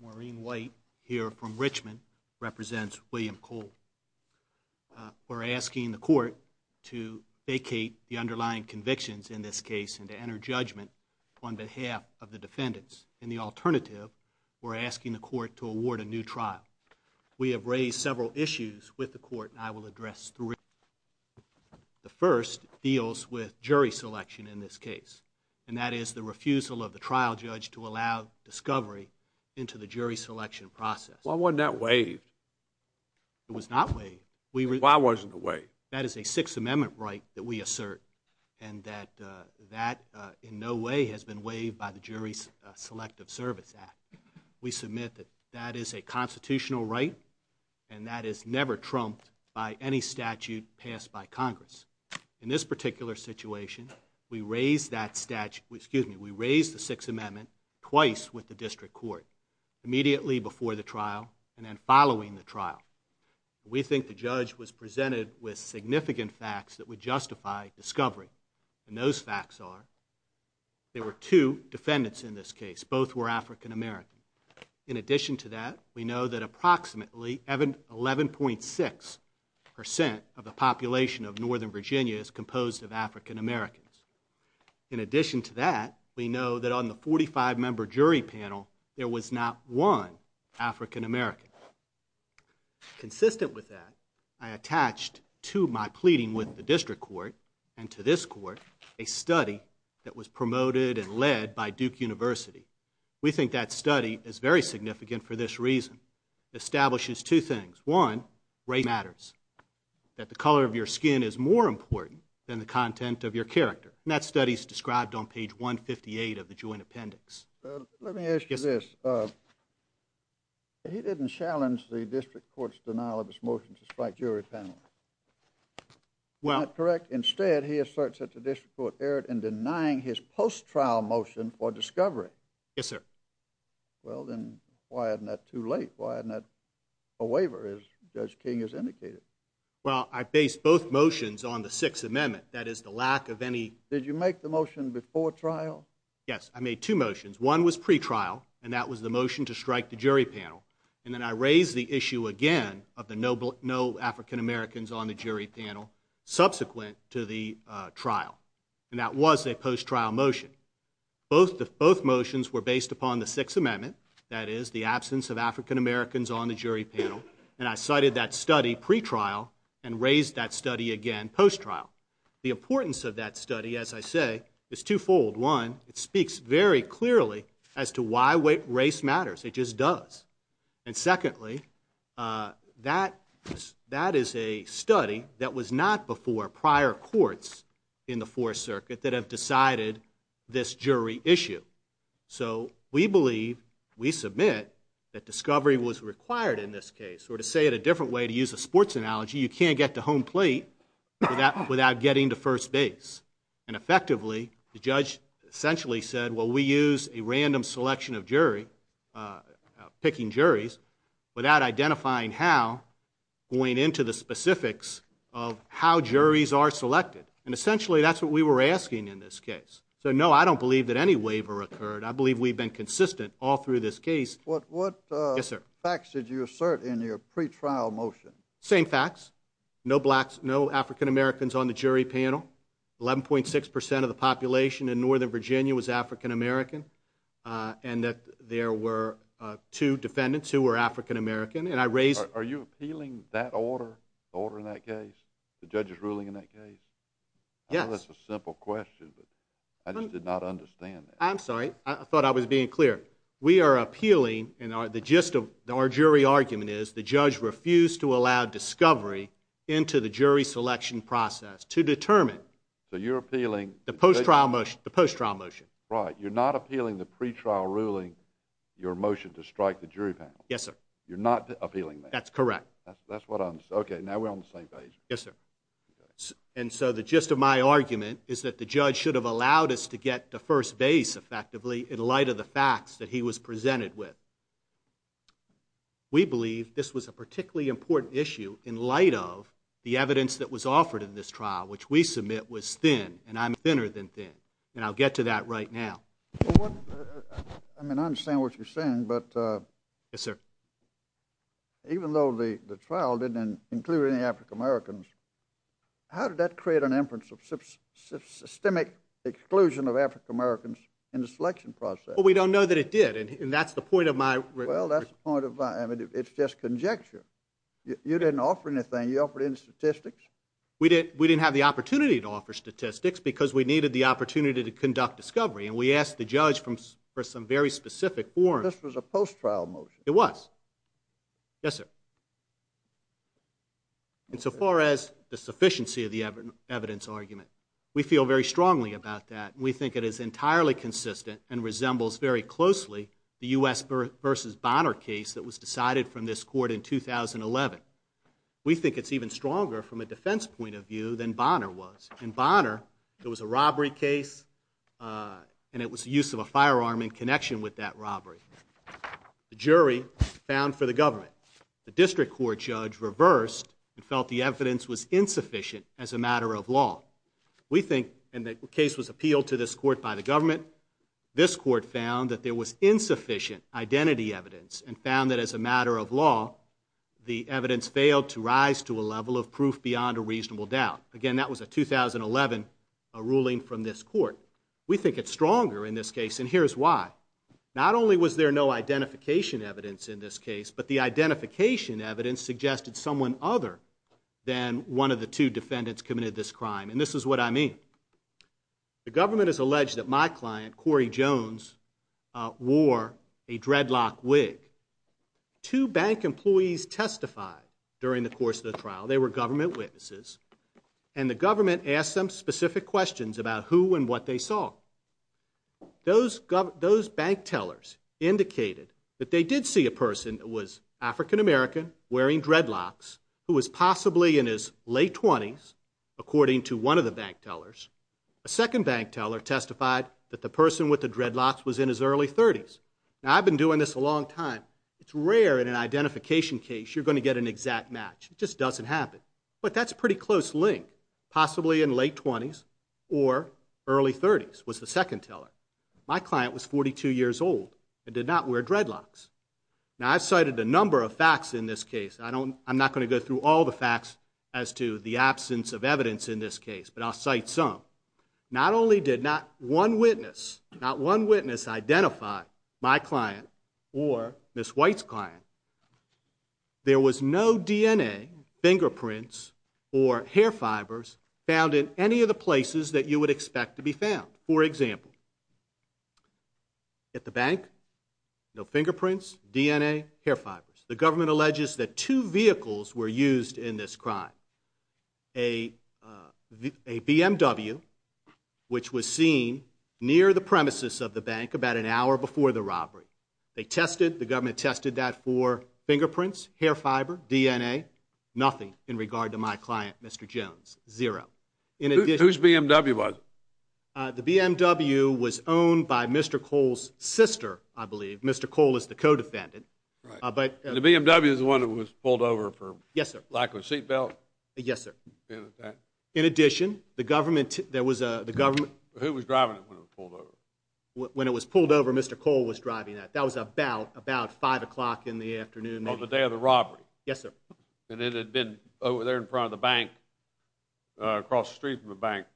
Maureen White here from Richmond represents William Cole. We're asking the court to vacate the underlying convictions in this case and to enter judgment on behalf of the defendants and the alternative, we're asking the court to award a new trial. We have raised several issues with the court and I will address three. The first deals with jury selection in this case and that is the refusal of the trial judge to allow discovery into the jury selection process. Why wasn't that waived? It was not waived. Why wasn't it waived? That is a Sixth Elective Service Act. We submit that that is a constitutional right and that is never trumped by any statute passed by Congress. In this particular situation, we raised that statute, excuse me, we raised the Sixth Amendment twice with the district court. Immediately before the trial and then following the trial. We think the judge was presented with significant facts that would justify discovery and those facts are there were two defendants in this case. Both were African-American. In addition to that, we know that approximately 11.6% of the population of Northern Virginia is composed of African-Americans. In addition to that, we know that on the 45-member jury panel, there was not one African-American. Consistent with that, I attached to my pleading with the district court and to this court a study that was promoted and led by Duke University. We think that study is very significant for this reason. It establishes two things. One, race matters. That the color of your skin is more important than the content of your character. And that study is described on page 158 of the joint appendix. Let me ask you this. He didn't challenge the district court's denial of his motion to strike the jury panel. Isn't that correct? Instead, he asserts that the district court erred in denying his post-trial motion for discovery. Yes, sir. Well, then, why isn't that too late? Why isn't that a waiver as Judge King has indicated? Well, I based both motions on the Sixth Amendment. That is the lack of any... Did you make the motion before trial? Yes. I made two motions. One was pre-trial and that was the motion to strike the jury on the jury panel subsequent to the trial. And that was a post-trial motion. Both motions were based upon the Sixth Amendment. That is the absence of African-Americans on the jury panel. And I cited that study pre-trial and raised that study again post-trial. The importance of that study, as I say, is two-fold. One, it speaks very clearly as to why race matters. It just does. And secondly, that is a study that was not before prior courts in the Fourth Circuit that have decided this jury issue. So we believe, we submit, that discovery was required in this case. Or to say it a different way, to use a sports analogy, you can't get to home plate without getting to first base. And effectively, the decision of jury, picking juries, without identifying how, going into the specifics of how juries are selected. And essentially, that's what we were asking in this case. So no, I don't believe that any waiver occurred. I believe we've been consistent all through this case. What facts did you assert in your pre-trial motion? Same facts. No African-Americans on the jury panel. 11.6% of the population in Northern California said there were two defendants who were African-American. Are you appealing that order in that case? The judge's ruling in that case? Yes. I know that's a simple question, but I just did not understand that. I'm sorry. I thought I was being clear. We are appealing, and the gist of our jury argument is the judge refused to allow discovery into the jury selection process to determine the post-trial motion. You're not appealing the pre-trial ruling, your motion to strike the jury panel? Yes, sir. You're not appealing that? That's correct. Okay, now we're on the same page. And so the gist of my argument is that the judge should have allowed us to get to first base effectively in light of the facts that he was presented with. We believe this was a particularly important issue in light of the evidence that was offered in this trial, which we submit was thin, and I'm thinner than thin. And I'll get to that right now. I mean, I understand what you're saying, but even though the trial didn't include any African-Americans, how did that create an inference of systemic exclusion of African-Americans in the selection process? Well, we don't know that it did, and that's the point of my argument. Well, that's the point of my argument. It's just conjecture. You didn't offer anything. You offered any statistics? We didn't have the opportunity to offer statistics because we needed the opportunity to conduct discovery, and we asked the judge for some very specific forms. This was a post-trial motion. It was. Yes, sir. And so far as the sufficiency of the evidence argument, we feel very strongly about that. We think it is entirely consistent and resembles very closely the U.S. v. Bonner case that was decided from this court in 2011. We think it's even stronger from a defense point of view than Bonner was. In Bonner, there was a robbery case, and it was the use of a firearm in connection with that robbery. The jury found for the government. The district court judge reversed and felt the evidence was insufficient as a matter of law. We think, and the case was appealed to this court by the government, this court found that there was insufficient identity evidence and found that as a matter of law, the evidence failed to rise to a level of proof beyond a reasonable doubt. Again, that was a 2011 ruling from this court. We think it's stronger in this case, and here's why. Not only was there no identification evidence in this case, but the identification evidence suggested someone other than one of the two defendants committed this crime, and this is what I mean. The government has alleged that my client, Corey Jones, wore a dreadlock wig. Two bank employees testified during the course of the trial. They were government witnesses, and the government asked them specific questions about who and what they saw. Those bank tellers indicated that they did see a person that was African American, wearing dreadlocks, who was possibly in his late 20s, according to one of the bank tellers. A second bank teller testified that the person with the dreadlocks was in his early 30s. Now, I've been doing this a long time. It's rare in an identification case you're going to get an exact match. It just doesn't happen, but that's a pretty close link. Possibly in late 20s or early 30s, was the second teller. My client was 42 years old and did not wear dreadlocks. Now, I've cited a number of facts in this case. I'm not going to go through all the facts as to the absence of evidence in this case, but I'll cite some. Not only did not one witness, not one witness identify my client or Ms. White's client, there was no DNA, fingerprints, or hair fibers found in any of the places that you would expect to be found. For example, at the bank, no fingerprints, DNA, hair fibers. The government alleges that two vehicles were used in this crime. A BMW, which was seen near the premises of the bank about an hour before the robbery. They tested, the government tested that for fingerprints, hair fiber, DNA, nothing in regard to my client, Mr. Jones. Zero. Whose BMW was it? Mr. Cole is the co-defendant. Right. The BMW is the one that was pulled over for lack of a seat belt? Yes, sir. In addition, the government, there was a, the government. Who was driving it when it was pulled over? When it was pulled over, Mr. Cole was driving it. That was about, about 5 o'clock in the afternoon. On the day of the robbery? Yes, sir. And it had been over there in front of the bank, across the street from the bank,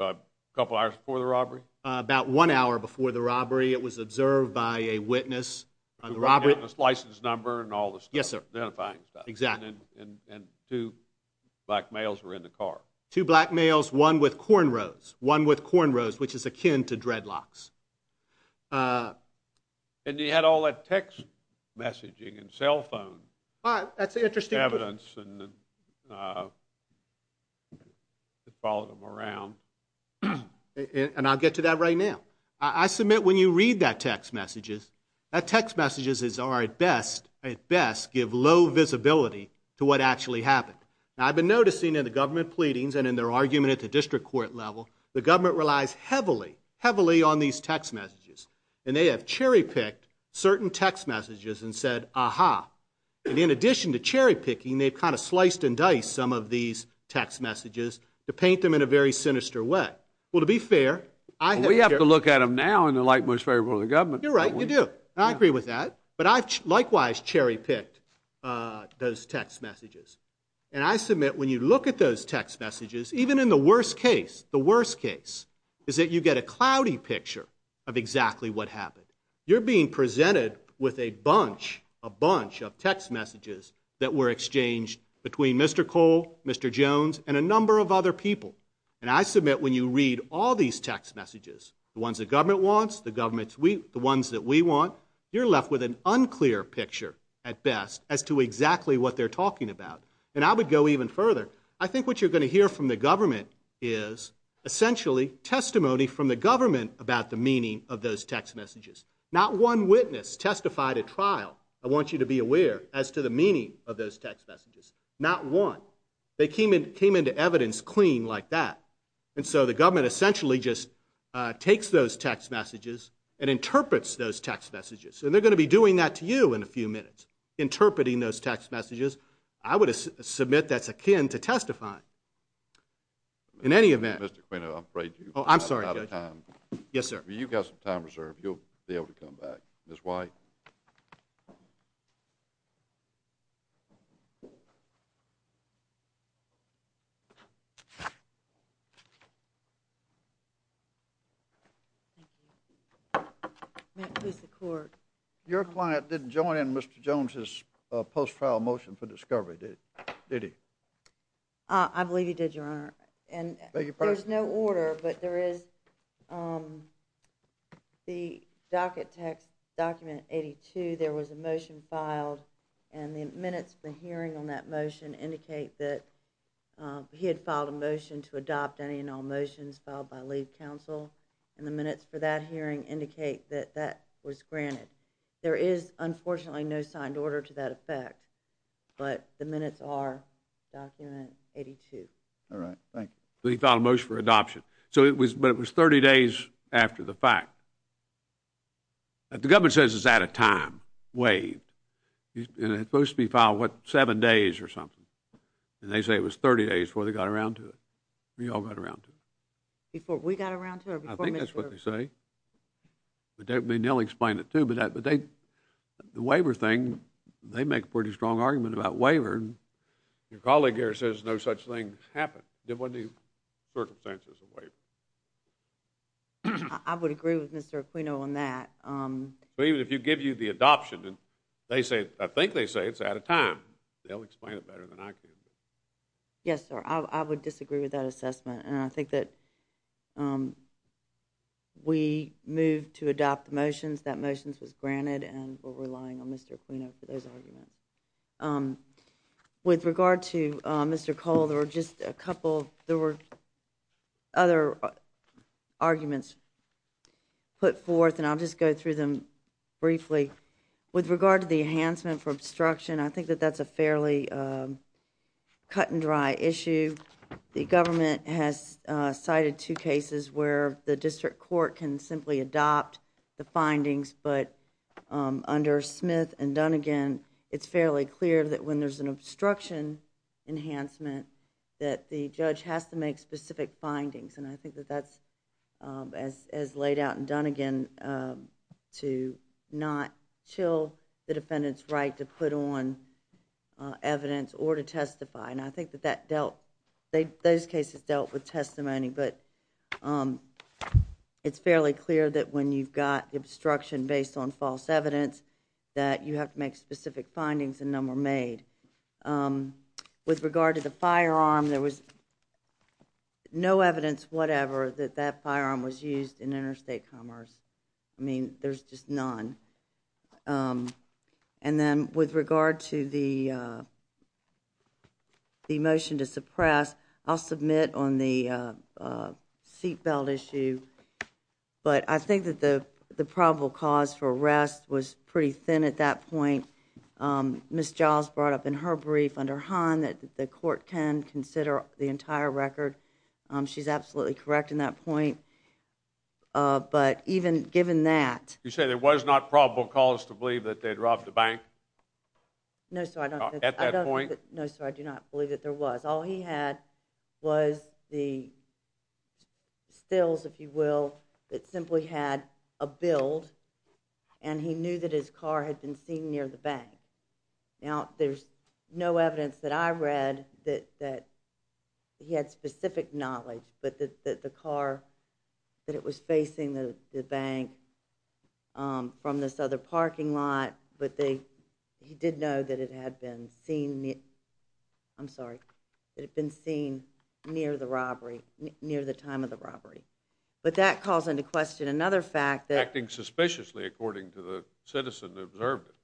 a couple hours before the robbery? About one hour before the robbery. It was observed by a witness on the robbery. A witness license number and all this stuff. Yes, sir. Identifying stuff. Exactly. And two black males were in the car. Two black males, one with cornrows. One with cornrows, which is akin to dreadlocks. And he had all that text messaging and cell phone evidence and followed him around. And I'll get to that right now. I submit when you read that text messages, that text messages are at best, at best give low visibility to what actually happened. Now, I've been noticing in the government pleadings and in their argument at the district court level, the government relies heavily, heavily on these text messages. And they have cherry-picked certain text messages and said, aha. And in addition to cherry-picking, they've kind of sliced and diced some of these text messages to paint them in a very sinister way. Well, to be fair, I have to look at them now and they're like most favorable to the government. You're right. You do. I agree with that. But I've likewise cherry-picked those text messages. And I submit when you look at those text messages, even in the worst case, the worst case is that you get a cloudy picture of exactly what happened. You're being presented with a bunch, a bunch of text messages that were exchanged between Mr. Cole, Mr. Jones, and a number of other people. And I submit when you read all these text messages, the ones the government wants, the ones that we want, you're left with an unclear picture at best as to exactly what they're talking about. And I would go even further. I think what you're going to hear from the government is essentially testimony from the government about the meaning of those text messages. Not one witness testified at trial, I want you to be aware, as to the meaning of those text messages. Not one. They came into evidence clean like that. And so the government essentially just takes those text messages and interprets those text messages. And they're going to be doing that to you in a few minutes, interpreting those text messages. I would submit that's akin to testifying. In any event. Mr. Quino, I'm afraid you've run out of time. Oh, I'm sorry, Judge. Yes, sir. You've got some time reserved. You'll be able to come back. Ms. White? Your client didn't join in Mr. Jones's post-trial motion for discovery, did he? I believe he did, Your Honor. And there's no order, but there is the docket text document 82, there was a motion filed. And the minutes of the hearing on that motion indicate that he had filed a motion to adopt any and all motions filed by lead counsel. And the minutes for that hearing indicate that that was granted. There is, unfortunately, no signed order to that effect. But the minutes are document 82. All right. Thank you. So he filed a motion for adoption. So it was, but it was 30 days after the fact. But the government says it's out of time, waived, and it's supposed to be filed, what, seven days or something. And they say it was 30 days before they got around to it, before you all got around to it. Before we got around to it? I think that's what they say. I mean, they'll explain it, too, but the waiver thing, they make a pretty strong argument about waiver. Your colleague here says no such thing happened, there wasn't any circumstances of waiver. I would agree with Mr. Aquino on that. But even if you give you the adoption, they say, I think they say it's out of time. They'll explain it better than I can. Yes, sir. I would disagree with that assessment. And I think that we moved to adopt the motions, that motions was granted, and we're relying on Mr. Aquino for those arguments. With regard to Mr. Cole, there were just a couple, there were other arguments put forth, and I'll just go through them briefly. With regard to the enhancement for obstruction, I think that that's a fairly cut and dry issue. The government has cited two cases where the district court can simply adopt the findings, but under Smith and Dunnegan, it's fairly clear that when there's an obstruction enhancement, that the judge has to make specific findings. And I think that that's, as laid out in Dunnegan, to not chill the defendant's right to put on evidence or to testify. And I think that that dealt, those cases dealt with testimony, but it's fairly clear that when you've got obstruction based on false evidence, that you have to make specific findings and none were made. With regard to the firearm, there was no evidence, whatever, that that firearm was used in interstate commerce. I mean, there's just none. And then with regard to the motion to suppress, I'll submit on the seatbelt issue, but I think that the probable cause for arrest was pretty thin at that point. Ms. Giles brought up in her brief under Hahn that the court can consider the entire record. She's absolutely correct in that point. But even given that— You say there was not probable cause to believe that they'd robbed the bank? No, sir, I don't— At that point? No, sir, I do not believe that there was. All he had was the stills, if you will, that simply had a build, and he knew that his car had been seen near the bank. Now, there's no evidence that I read that he had specific knowledge, but that the car, that it was facing the bank from this other parking lot, but he did know that it had been seen near the time of the robbery. But that calls into question another fact that— Acting suspiciously, according to the citizen who observed it.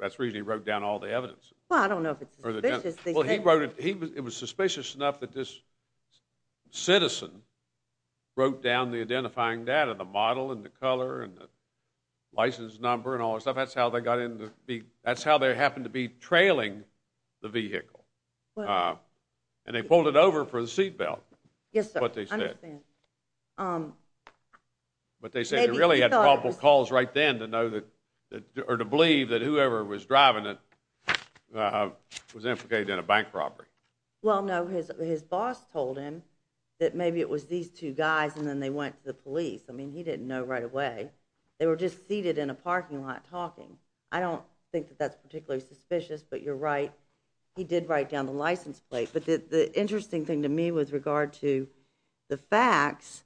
That's the reason he wrote down all the evidence. Well, I don't know if it's suspicious. Well, he wrote it. It was suspicious enough that this citizen wrote down the identifying data, the model and the color and the license number and all that stuff. That's how they happened to be trailing the vehicle. And they pulled it over for the seatbelt, is what they said. Yes, sir, I understand. But they said you really had probable cause right then to know that, or to believe that whoever was driving it was implicated in a bank robbery. Well, no, his boss told him that maybe it was these two guys, and then they went to the police. I mean, he didn't know right away. They were just seated in a parking lot talking. I don't think that that's particularly suspicious, but you're right. He did write down the license plate. But the interesting thing to me with regard to the facts,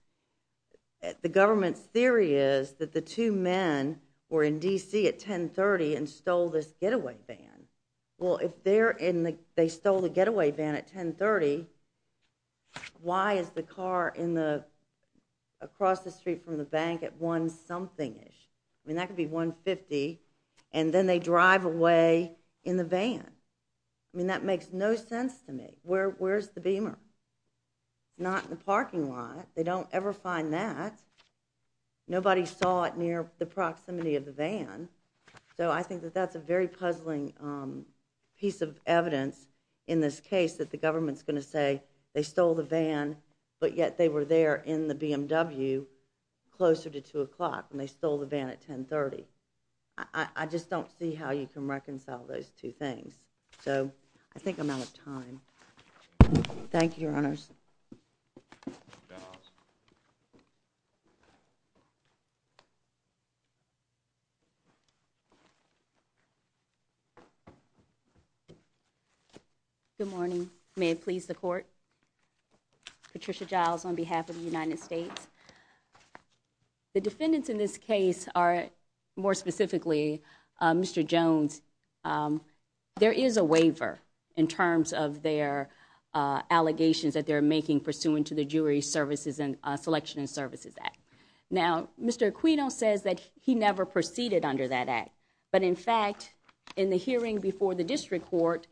the government's theory is that the two men were in D.C. at 10.30 and stole this getaway van. Well, if they stole the getaway van at 10.30, why is the car across the street from the home thing-ish? I mean, that could be 1.50, and then they drive away in the van. I mean, that makes no sense to me. Where's the Beamer? Not in the parking lot. They don't ever find that. Nobody saw it near the proximity of the van. So I think that that's a very puzzling piece of evidence in this case that the government's going to say they stole the van, but yet they were there in the BMW closer to 2 o'clock. And they stole the van at 10.30. I just don't see how you can reconcile those two things. So I think I'm out of time. Thank you, Your Honors. Good morning. May it please the Court. Patricia Giles on behalf of the United States. The defendants in this case are, more specifically, Mr. Jones. There is a waiver in terms of their allegations that they're making pursuant to the Jury Services and Selection and Services Act. Now, Mr. Aquino says that he never proceeded under that act. But in fact, in the hearing before the district court,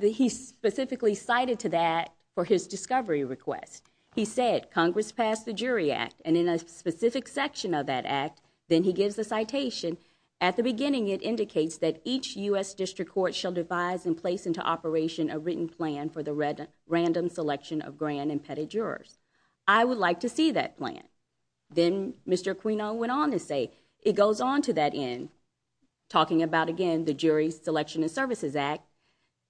he specifically cited to that for his discovery request. He said, Congress passed the Jury Act. And in a specific section of that act, then he gives a citation. At the beginning, it indicates that each U.S. district court shall devise and place into operation a written plan for the random selection of grand and petty jurors. I would like to see that plan. Then Mr. Aquino went on to say, it goes on to that end, talking about, again, the Jury Selection and Services Act,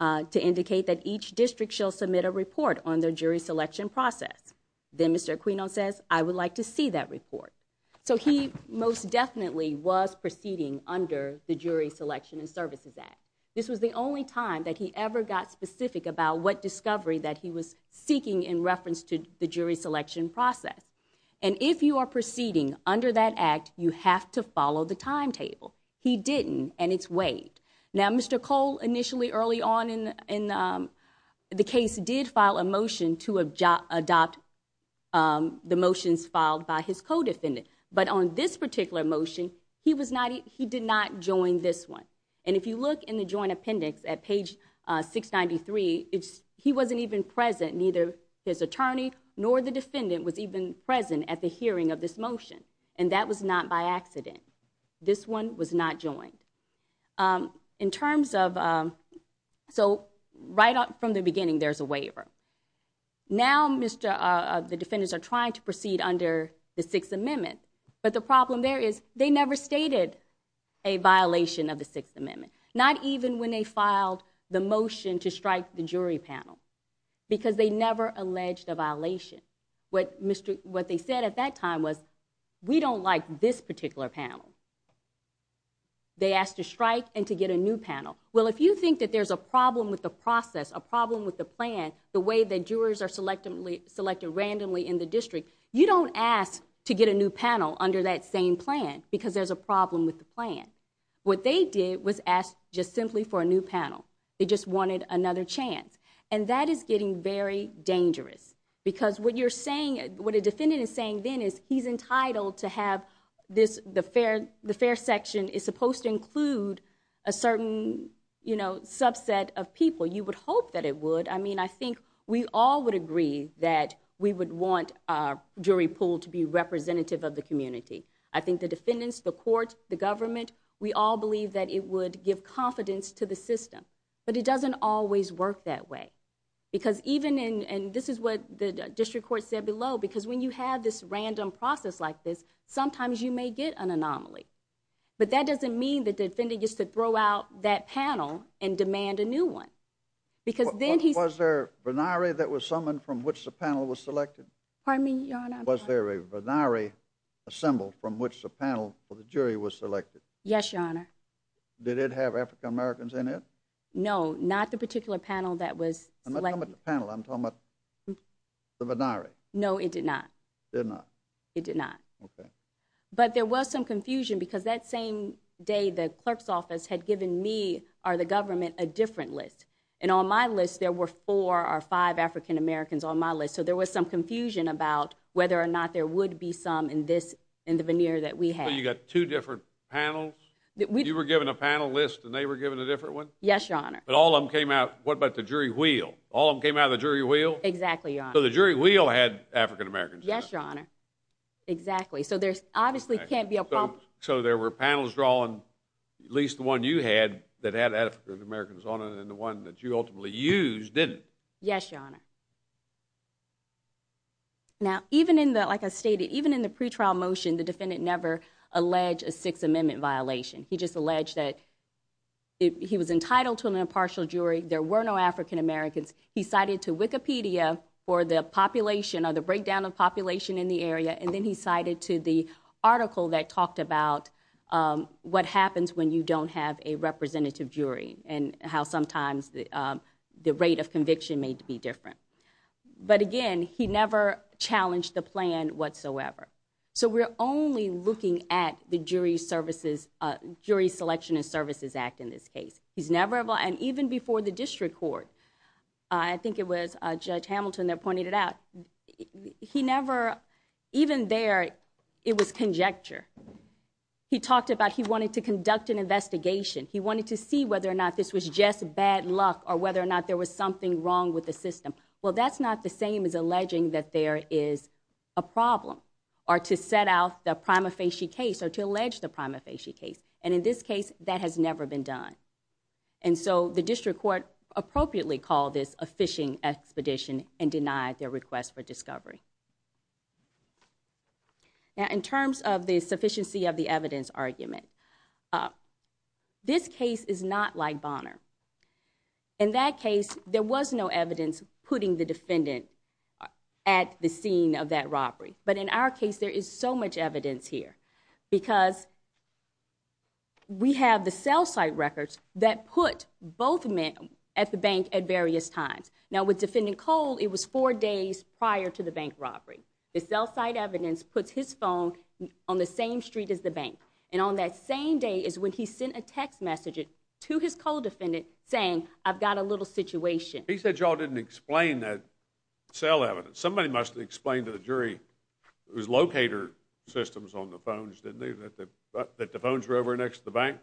to indicate that each district shall submit a report on their jury selection process. Then Mr. Aquino says, I would like to see that report. So he most definitely was proceeding under the Jury Selection and Services Act. This was the only time that he ever got specific about what discovery that he was seeking in reference to the jury selection process. And if you are proceeding under that act, you have to follow the timetable. He didn't, and it's waived. Now, Mr. Cole initially, early on in the case, did file a motion to adopt the motions filed by his co-defendant. But on this particular motion, he did not join this one. And if you look in the Joint Appendix at page 693, he wasn't even present. Neither his attorney nor the defendant was even present at the hearing of this motion. And that was not by accident. This one was not joined. In terms of, so right from the beginning, there's a waiver. Now, the defendants are trying to proceed under the Sixth Amendment. But the problem there is, they never stated a violation of the Sixth Amendment. Not even when they filed the motion to strike the jury panel. Because they never alleged a violation. What they said at that time was, we don't like this particular panel. They asked to strike and to get a new panel. Well, if you think that there's a problem with the process, a problem with the plan, the way that jurors are selected randomly in the district, you don't ask to get a new panel under that same plan. Because there's a problem with the plan. What they did was ask just simply for a new panel. They just wanted another chance. And that is getting very dangerous. Because what you're saying, what a defendant is saying then is, he's entitled to have this, the fair section is supposed to include a certain subset of people. You would hope that it would. I mean, I think we all would agree that we would want our jury pool to be representative of the community. I think the defendants, the court, the government, we all believe that it would give confidence to the system. But it doesn't always work that way. Because even in, and this is what the district court said below, because when you have this random process like this, sometimes you may get an anomaly. But that doesn't mean that the defendant gets to throw out that panel and demand a new one. Was there a venire that was summoned from which the panel was selected? Pardon me, Your Honor. Was there a venire assembled from which the panel for the jury was selected? Yes, Your Honor. Did it have African Americans in it? No, not the particular panel that was selected. I'm not talking about the panel, I'm talking about the venire. No, it did not. Did not. It did not. Okay. But there was some confusion because that same day, the clerk's office had given me or the government a different list. And on my list, there were four or five African Americans on my list. So there was some confusion about whether or not there would be some in the venire that we had. So you got two different panels? You were given a panel list and they were given a different one? Yes, Your Honor. But all of them came out, what about the jury wheel? All of them came out of the jury wheel? Exactly, Your Honor. So the jury wheel had African Americans in it? Yes, Your Honor. Exactly. So there obviously can't be a problem. So there were panels drawn, at least the one you had, that had African Americans on it and the one that you ultimately used didn't? Yes, Your Honor. Now, even in the, like I stated, even in the pretrial motion, the defendant never alleged a Sixth Amendment violation. He just alleged that he was entitled to an impartial jury, there were no African Americans. He cited to Wikipedia for the population, or the breakdown of population in the area, and then he cited to the article that talked about what happens when you don't have a representative jury and how sometimes the rate of conviction may be different. But again, he never challenged the plan whatsoever. So we're only looking at the Jury Selection and Services Act in this case. And even before the District Court, I think it was Judge Hamilton there pointed it out, he never, even there, it was conjecture. He talked about he wanted to conduct an investigation. He wanted to see whether or not this was just bad luck or whether or not there was something wrong with the system. Well, that's not the same as alleging that there is a problem or to set out the prima facie case or to allege the prima facie case. And in this case, that has never been done. And so the District Court appropriately called this a phishing expedition and denied their request for discovery. Now, in terms of the sufficiency of the evidence argument, this case is not like Bonner. In that case, there was no evidence putting the defendant at the scene of that robbery. But in our case, there is so much evidence here. Because we have the cell site records that put both men at the bank at various times. Now, with Defendant Cole, it was four days prior to the bank robbery. The cell site evidence puts his phone on the same street as the bank. And on that same day is when he sent a text message to his Cole defendant saying, I've got a little situation. He said y'all didn't explain that cell evidence. Somebody must have explained to the jury, it was locator systems on the phones, didn't they, that the phones were over next to the bank?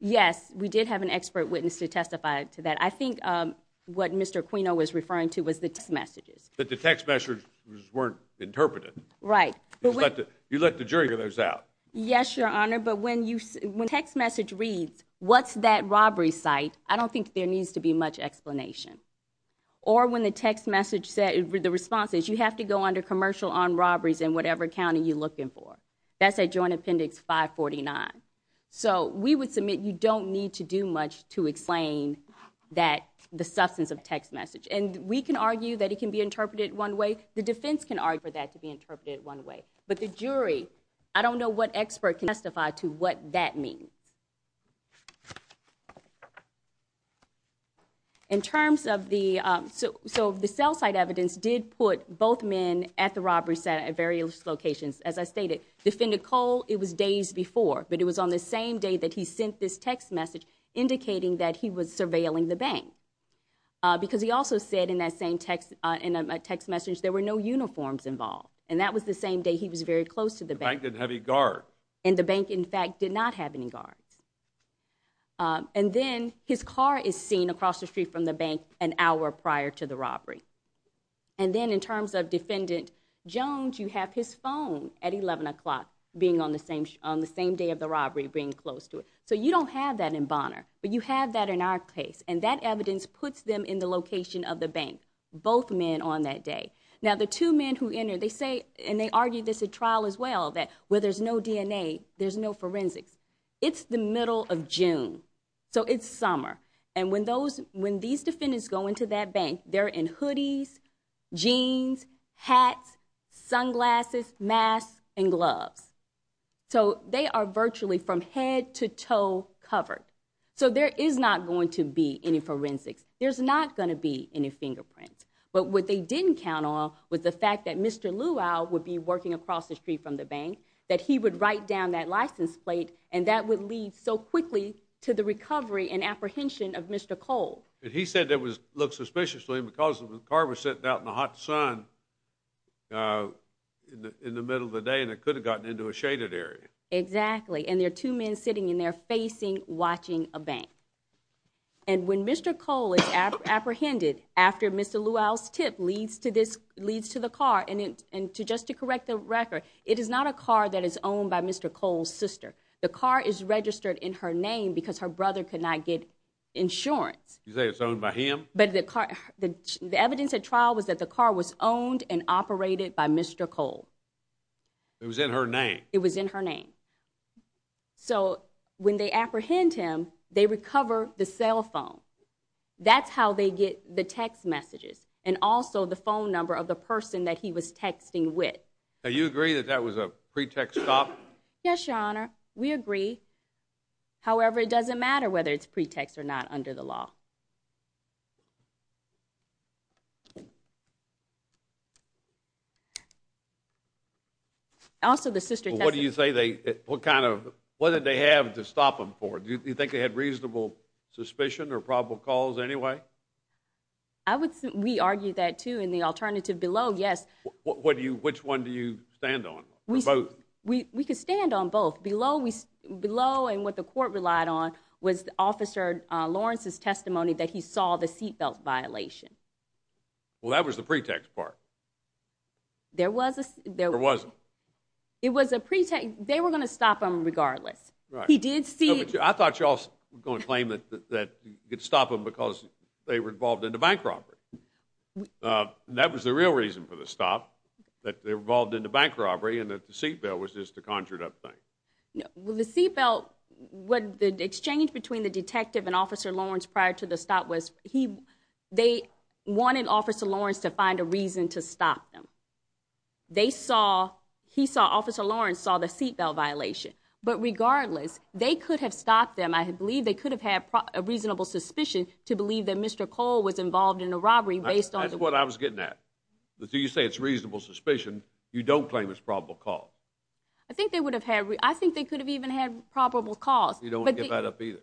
Yes, we did have an expert witness to testify to that. I think what Mr. Aquino was referring to was the text messages. But the text messages weren't interpreted. Right. You let the jury figure those out. Yes, Your Honor. But when a text message reads, what's that robbery site, I don't think there needs to be much explanation. Or when the response is you have to go under commercial armed robberies in whatever county you're looking for. That's at Joint Appendix 549. So we would submit you don't need to do much to explain the substance of the text message. And we can argue that it can be interpreted one way. The defense can argue for that to be interpreted one way. But the jury, I don't know what expert can testify to what that means. In terms of the cell site evidence, did put both men at the robbery site at various locations. As I stated, Defendant Cole, it was days before, but it was on the same day that he sent this text message indicating that he was surveilling the bank. Because he also said in that same text message there were no uniforms involved. And that was the same day he was very close to the bank. The bank didn't have any guards. And the bank, in fact, did not have any guards. And then his car is seen across the street from the bank an hour prior to the robbery. And then in terms of Defendant Jones, you have his phone at 11 o'clock, being on the same day of the robbery, being close to it. So you don't have that in Bonner, but you have that in our case. And that evidence puts them in the location of the bank, both men on that day. Now, the two men who entered, they say, and they argue this at trial as well, that where there's no DNA, there's no forensics. It's the middle of June. So it's summer. And when these defendants go into that bank, they're in hoodies, jeans, hats, sunglasses, masks, and gloves. So they are virtually from head to toe covered. So there is not going to be any forensics. There's not going to be any fingerprints. But what they didn't count on was the fact that Mr. Luau would be working across the street from the bank, that he would write down that license plate, and that would lead so quickly to the recovery and apprehension of Mr. Cole. But he said it looked suspicious to him because the car was sitting out in the hot sun in the middle of the day, and it could have gotten into a shaded area. Exactly. And there are two men sitting in there facing, watching a bank. And when Mr. Cole is apprehended after Mr. Luau's tip leads to the car, and just to correct the record, it is not a car that is owned by Mr. Cole's sister. The car is registered in her name because her brother could not get insurance. You say it's owned by him? But the evidence at trial was that the car was owned and operated by Mr. Cole. It was in her name? It was in her name. So when they apprehend him, they recover the cell phone. That's how they get the text messages and also the phone number of the person that he was texting with. Now, you agree that that was a pretext stop? Yes, Your Honor. We agree. However, it doesn't matter whether it's pretext or not under the law. Also, the sister texted. What do you say they, what kind of, what did they have to stop him for? Do you think they had reasonable suspicion or probable cause anyway? We argued that, too, in the alternative below, yes. Which one do you stand on, or both? We could stand on both. Below and what the court relied on was Officer Lawrence's testimony that he saw the seatbelt violation. Well, that was the pretext part. Or was it? It was a pretext. They were going to stop him regardless. He did see it. I thought you all were going to claim that you could stop him because they were involved in the bank robbery. That was the real reason for the stop, that they were involved in the bank robbery and that the seatbelt was just a conjured up thing. Well, the seatbelt, what the exchange between the detective and Officer Lawrence prior to the stop was they wanted Officer Lawrence to find a reason to stop them. They saw, he saw, Officer Lawrence saw the seatbelt violation. But regardless, they could have stopped them. I believe they could have had a reasonable suspicion to believe that Mr. Cole was involved in the robbery. That's what I was getting at. You say it's reasonable suspicion. You don't claim it's probable cause. I think they could have even had probable cause. You don't want to give that up either.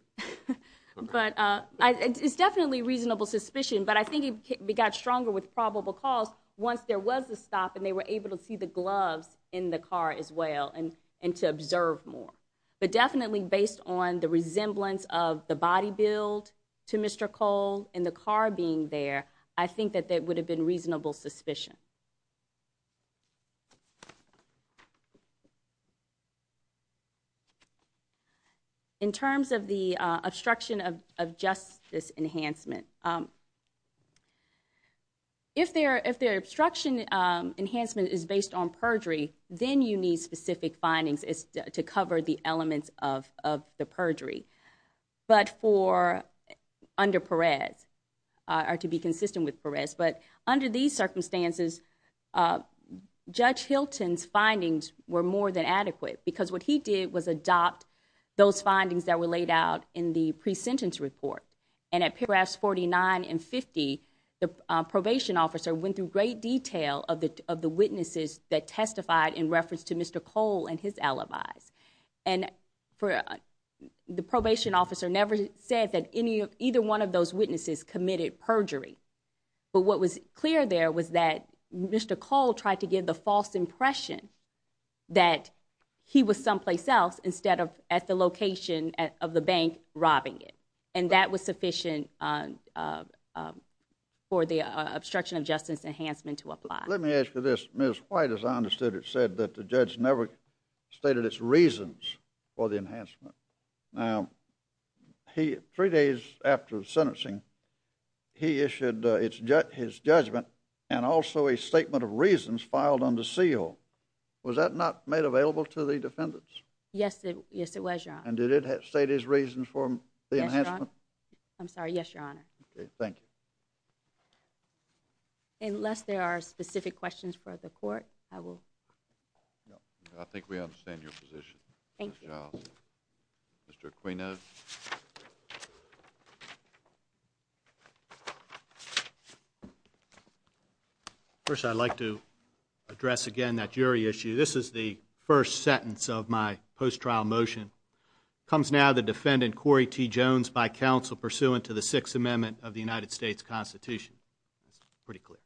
It's definitely reasonable suspicion, but I think it got stronger with probable cause once there was a stop and they were able to see the gloves in the car as well and to observe more. But definitely based on the resemblance of the body build to Mr. Cole and the car being there, I think that there would have been reasonable suspicion. In terms of the obstruction of justice enhancement, if their obstruction enhancement is based on perjury, then you need specific findings to cover the elements of the perjury. But for under Perez, or to be consistent with Perez, but under these circumstances, Judge Hilton's findings were more than adequate because what he did was adopt those findings that were laid out in the pre-sentence report. And at paragraphs 49 and 50, the probation officer went through great detail of the witnesses that testified in reference to Mr. Cole and his alibis. And the probation officer never said that either one of those witnesses committed perjury. But what was clear there was that Mr. Cole tried to give the false impression that he was someplace else instead of at the location of the bank robbing it. And that was sufficient for the obstruction of justice enhancement to apply. Let me ask you this. Ms. White, as I understood it, said that the judge never stated its reasons for the enhancement. Now, three days after the sentencing, he issued his judgment and also a statement of reasons filed under seal. Was that not made available to the defendants? Yes, it was, Your Honor. And did it state his reasons for the enhancement? I'm sorry. Yes, Your Honor. Thank you. Unless there are specific questions for the court, I will. No. I think we understand your position. Thank you. Mr. Aquino. First, I'd like to address again that jury issue. This is the first sentence of my post-trial motion. Comes now the defendant, Corey T. Jones, by counsel, pursuant to the Sixth Amendment of the United States Constitution. It's pretty clear.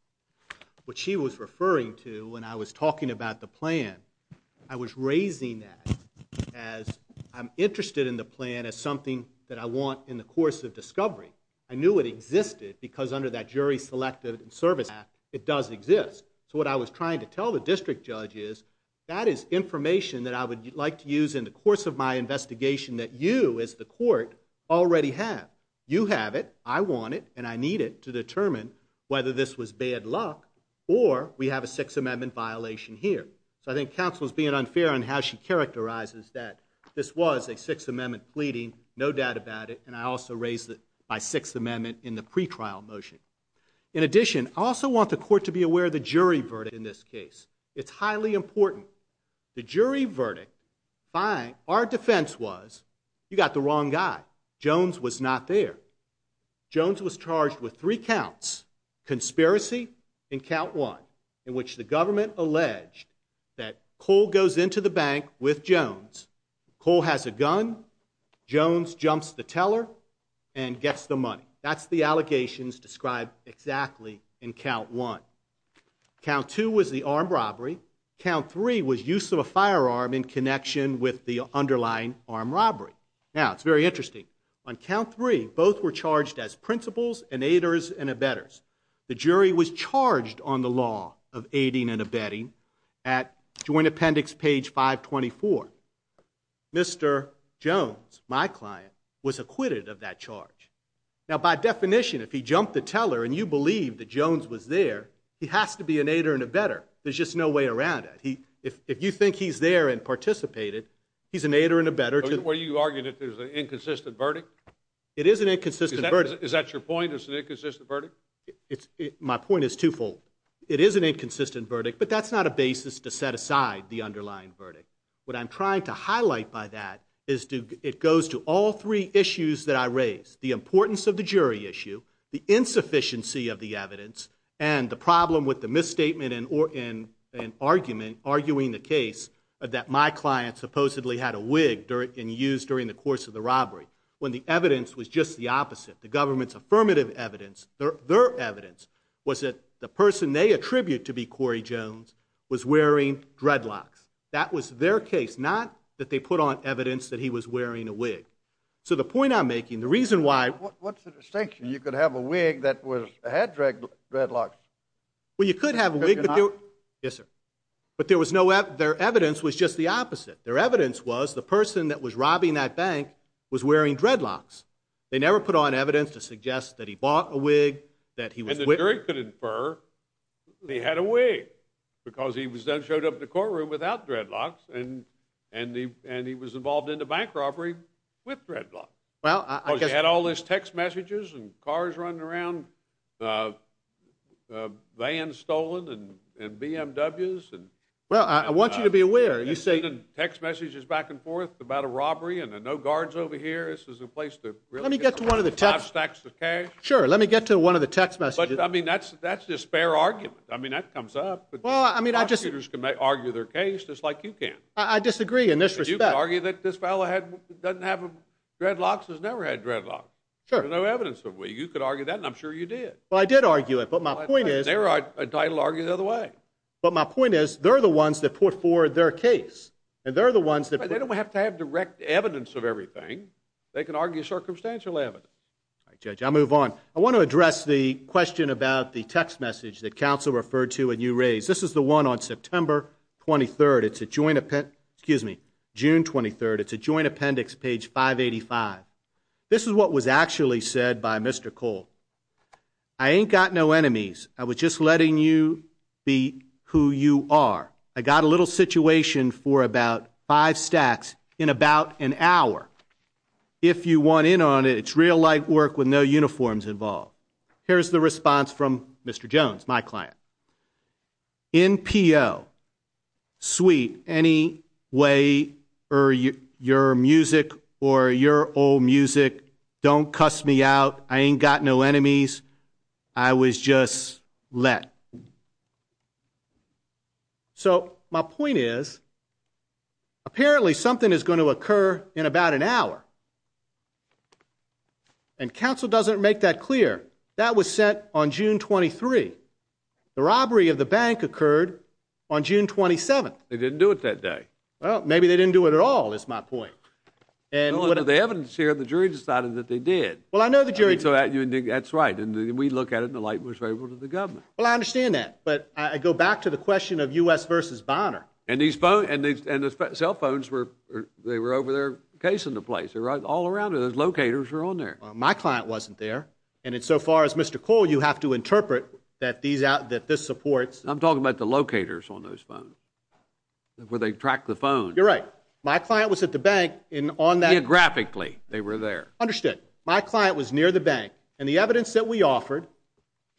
What she was referring to when I was talking about the plan, I was raising that as I'm interested in the plan as something that I want in the course of discovery. I knew it existed because under that jury selective service act, it does exist. So what I was trying to tell the district judge is that is information that I would like to use in the course of my investigation that you, as the court, already have. You have it, I want it, and I need it to determine whether this was bad luck or we have a Sixth Amendment violation here. So I think counsel is being unfair on how she characterizes that this was a Sixth Amendment pleading, no doubt about it, and I also raised it by Sixth Amendment in the pretrial motion. In addition, I also want the court to be aware of the jury verdict in this case. It's highly important. The jury verdict, our defense was you got the wrong guy. Jones was not there. Jones was charged with three counts, conspiracy in count one, in which the government alleged that Cole goes into the bank with Jones. Cole has a gun. Jones jumps the teller and gets the money. That's the allegations described exactly in count one. Count two was the armed robbery. Count three was use of a firearm in connection with the underlying armed robbery. Now, it's very interesting. On count three, both were charged as principals and aiders and abettors. The jury was charged on the law of aiding and abetting at Joint Appendix page 524. Mr. Jones, my client, was acquitted of that charge. Now, by definition, if he jumped the teller and you believe that Jones was there, he has to be an aider and abettor. There's just no way around it. If you think he's there and participated, he's an aider and abettor. Were you arguing that there's an inconsistent verdict? It is an inconsistent verdict. Is that your point, it's an inconsistent verdict? My point is twofold. It is an inconsistent verdict, but that's not a basis to set aside the underlying verdict. What I'm trying to highlight by that is it goes to all three issues that I raised, the importance of the jury issue, the insufficiency of the evidence, and the problem with the misstatement and argument, arguing the case that my client supposedly had a wig and used during the course of the robbery, when the evidence was just the opposite. The government's affirmative evidence, their evidence, was that the person they attribute to be Corey Jones was wearing dreadlocks. That was their case, not that they put on evidence that he was wearing a wig. So the point I'm making, the reason why— What's the distinction? You could have a wig that had dreadlocks. Well, you could have a wig— Could you not? Yes, sir. But their evidence was just the opposite. Their evidence was the person that was robbing that bank was wearing dreadlocks. They never put on evidence to suggest that he bought a wig, that he was— And the jury could infer he had a wig because he showed up in the courtroom without dreadlocks, and he was involved in the bank robbery with dreadlocks. Well, I guess— I mean, text messages and cars running around, vans stolen, and BMWs, and— Well, I want you to be aware, you say— And sending text messages back and forth about a robbery and no guards over here. This is a place to really— Let me get to one of the text— Five stacks of cash. Sure, let me get to one of the text messages. But, I mean, that's a spare argument. I mean, that comes up. Well, I mean, I just— Prosecutors can argue their case just like you can. I disagree in this respect. You could argue that this fellow doesn't have dreadlocks, has never had dreadlocks. Sure. There's no evidence of it. You could argue that, and I'm sure you did. Well, I did argue it, but my point is— They're entitled to argue it the other way. But my point is, they're the ones that put forward their case, and they're the ones that— They don't have to have direct evidence of everything. They can argue circumstantial evidence. All right, Judge, I'll move on. I want to address the question about the text message that counsel referred to and you raised. This is the one on September 23rd. It's a joint—excuse me, June 23rd. It's a joint appendix, page 585. This is what was actually said by Mr. Cole. I ain't got no enemies. I was just letting you be who you are. I got a little situation for about five stacks in about an hour. If you want in on it, it's real light work with no uniforms involved. NPO. Sweet. Any way, or your music, or your old music, don't cuss me out. I ain't got no enemies. I was just let. So, my point is, apparently something is going to occur in about an hour. And counsel doesn't make that clear. That was said on June 23rd. The robbery of the bank occurred on June 27th. They didn't do it that day. Well, maybe they didn't do it at all, is my point. Well, under the evidence here, the jury decided that they did. Well, I know the jury did. That's right. And we look at it and the light was favorable to the government. Well, I understand that. But I go back to the question of U.S. v. Bonner. And the cell phones were over there casing the place. They were all around it. Those locators were on there. Well, my client wasn't there. And so far as Mr. Cole, you have to interpret that this supports. I'm talking about the locators on those phones where they track the phone. You're right. My client was at the bank and on that. Geographically, they were there. Understood. My client was near the bank. And the evidence that we offered,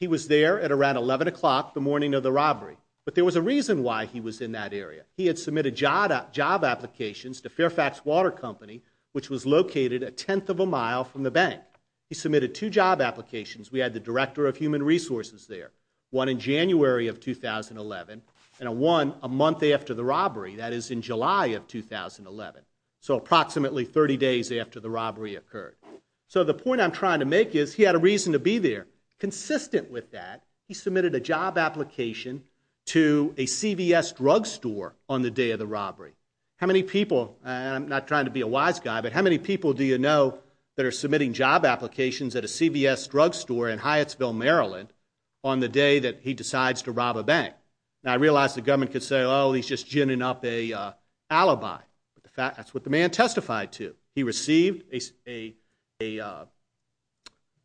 he was there at around 11 o'clock the morning of the robbery. But there was a reason why he was in that area. He had submitted job applications to Fairfax Water Company, which was located a tenth of a mile from the bank. He submitted two job applications. We had the Director of Human Resources there, one in January of 2011, and one a month after the robbery, that is in July of 2011. So approximately 30 days after the robbery occurred. So the point I'm trying to make is he had a reason to be there. Consistent with that, he submitted a job application to a CVS drug store on the day of the robbery. How many people, and I'm not trying to be a wise guy, but how many people do you know that are submitting job applications at a CVS drug store in Hyattsville, Maryland, on the day that he decides to rob a bank? And I realize the government could say, oh, he's just ginning up an alibi. That's what the man testified to. He received a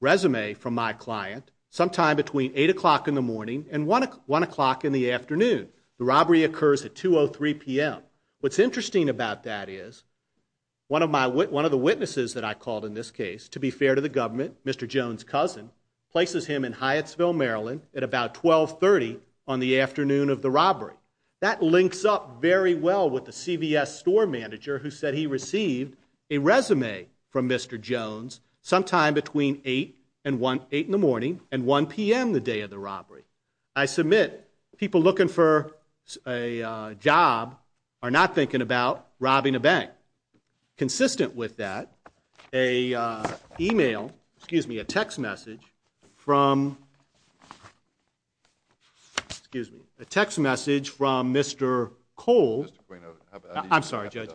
resume from my client sometime between 8 o'clock in the morning and 1 o'clock in the afternoon. The robbery occurs at 2.03 p.m. What's interesting about that is one of the witnesses that I called in this case, to be fair to the government, Mr. Jones' cousin, places him in Hyattsville, Maryland, at about 12.30 on the afternoon of the robbery. That links up very well with the CVS store manager who said he received a resume from Mr. Jones sometime between 8 in the morning and 1 p.m. the day of the robbery. I submit people looking for a job are not thinking about robbing a bank. Consistent with that, a text message from Mr. Cole. I'm sorry, Judge.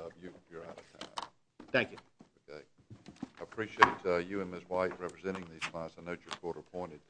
Thank you. I appreciate you and Ms. White representing these clients. I note you're court-appointed.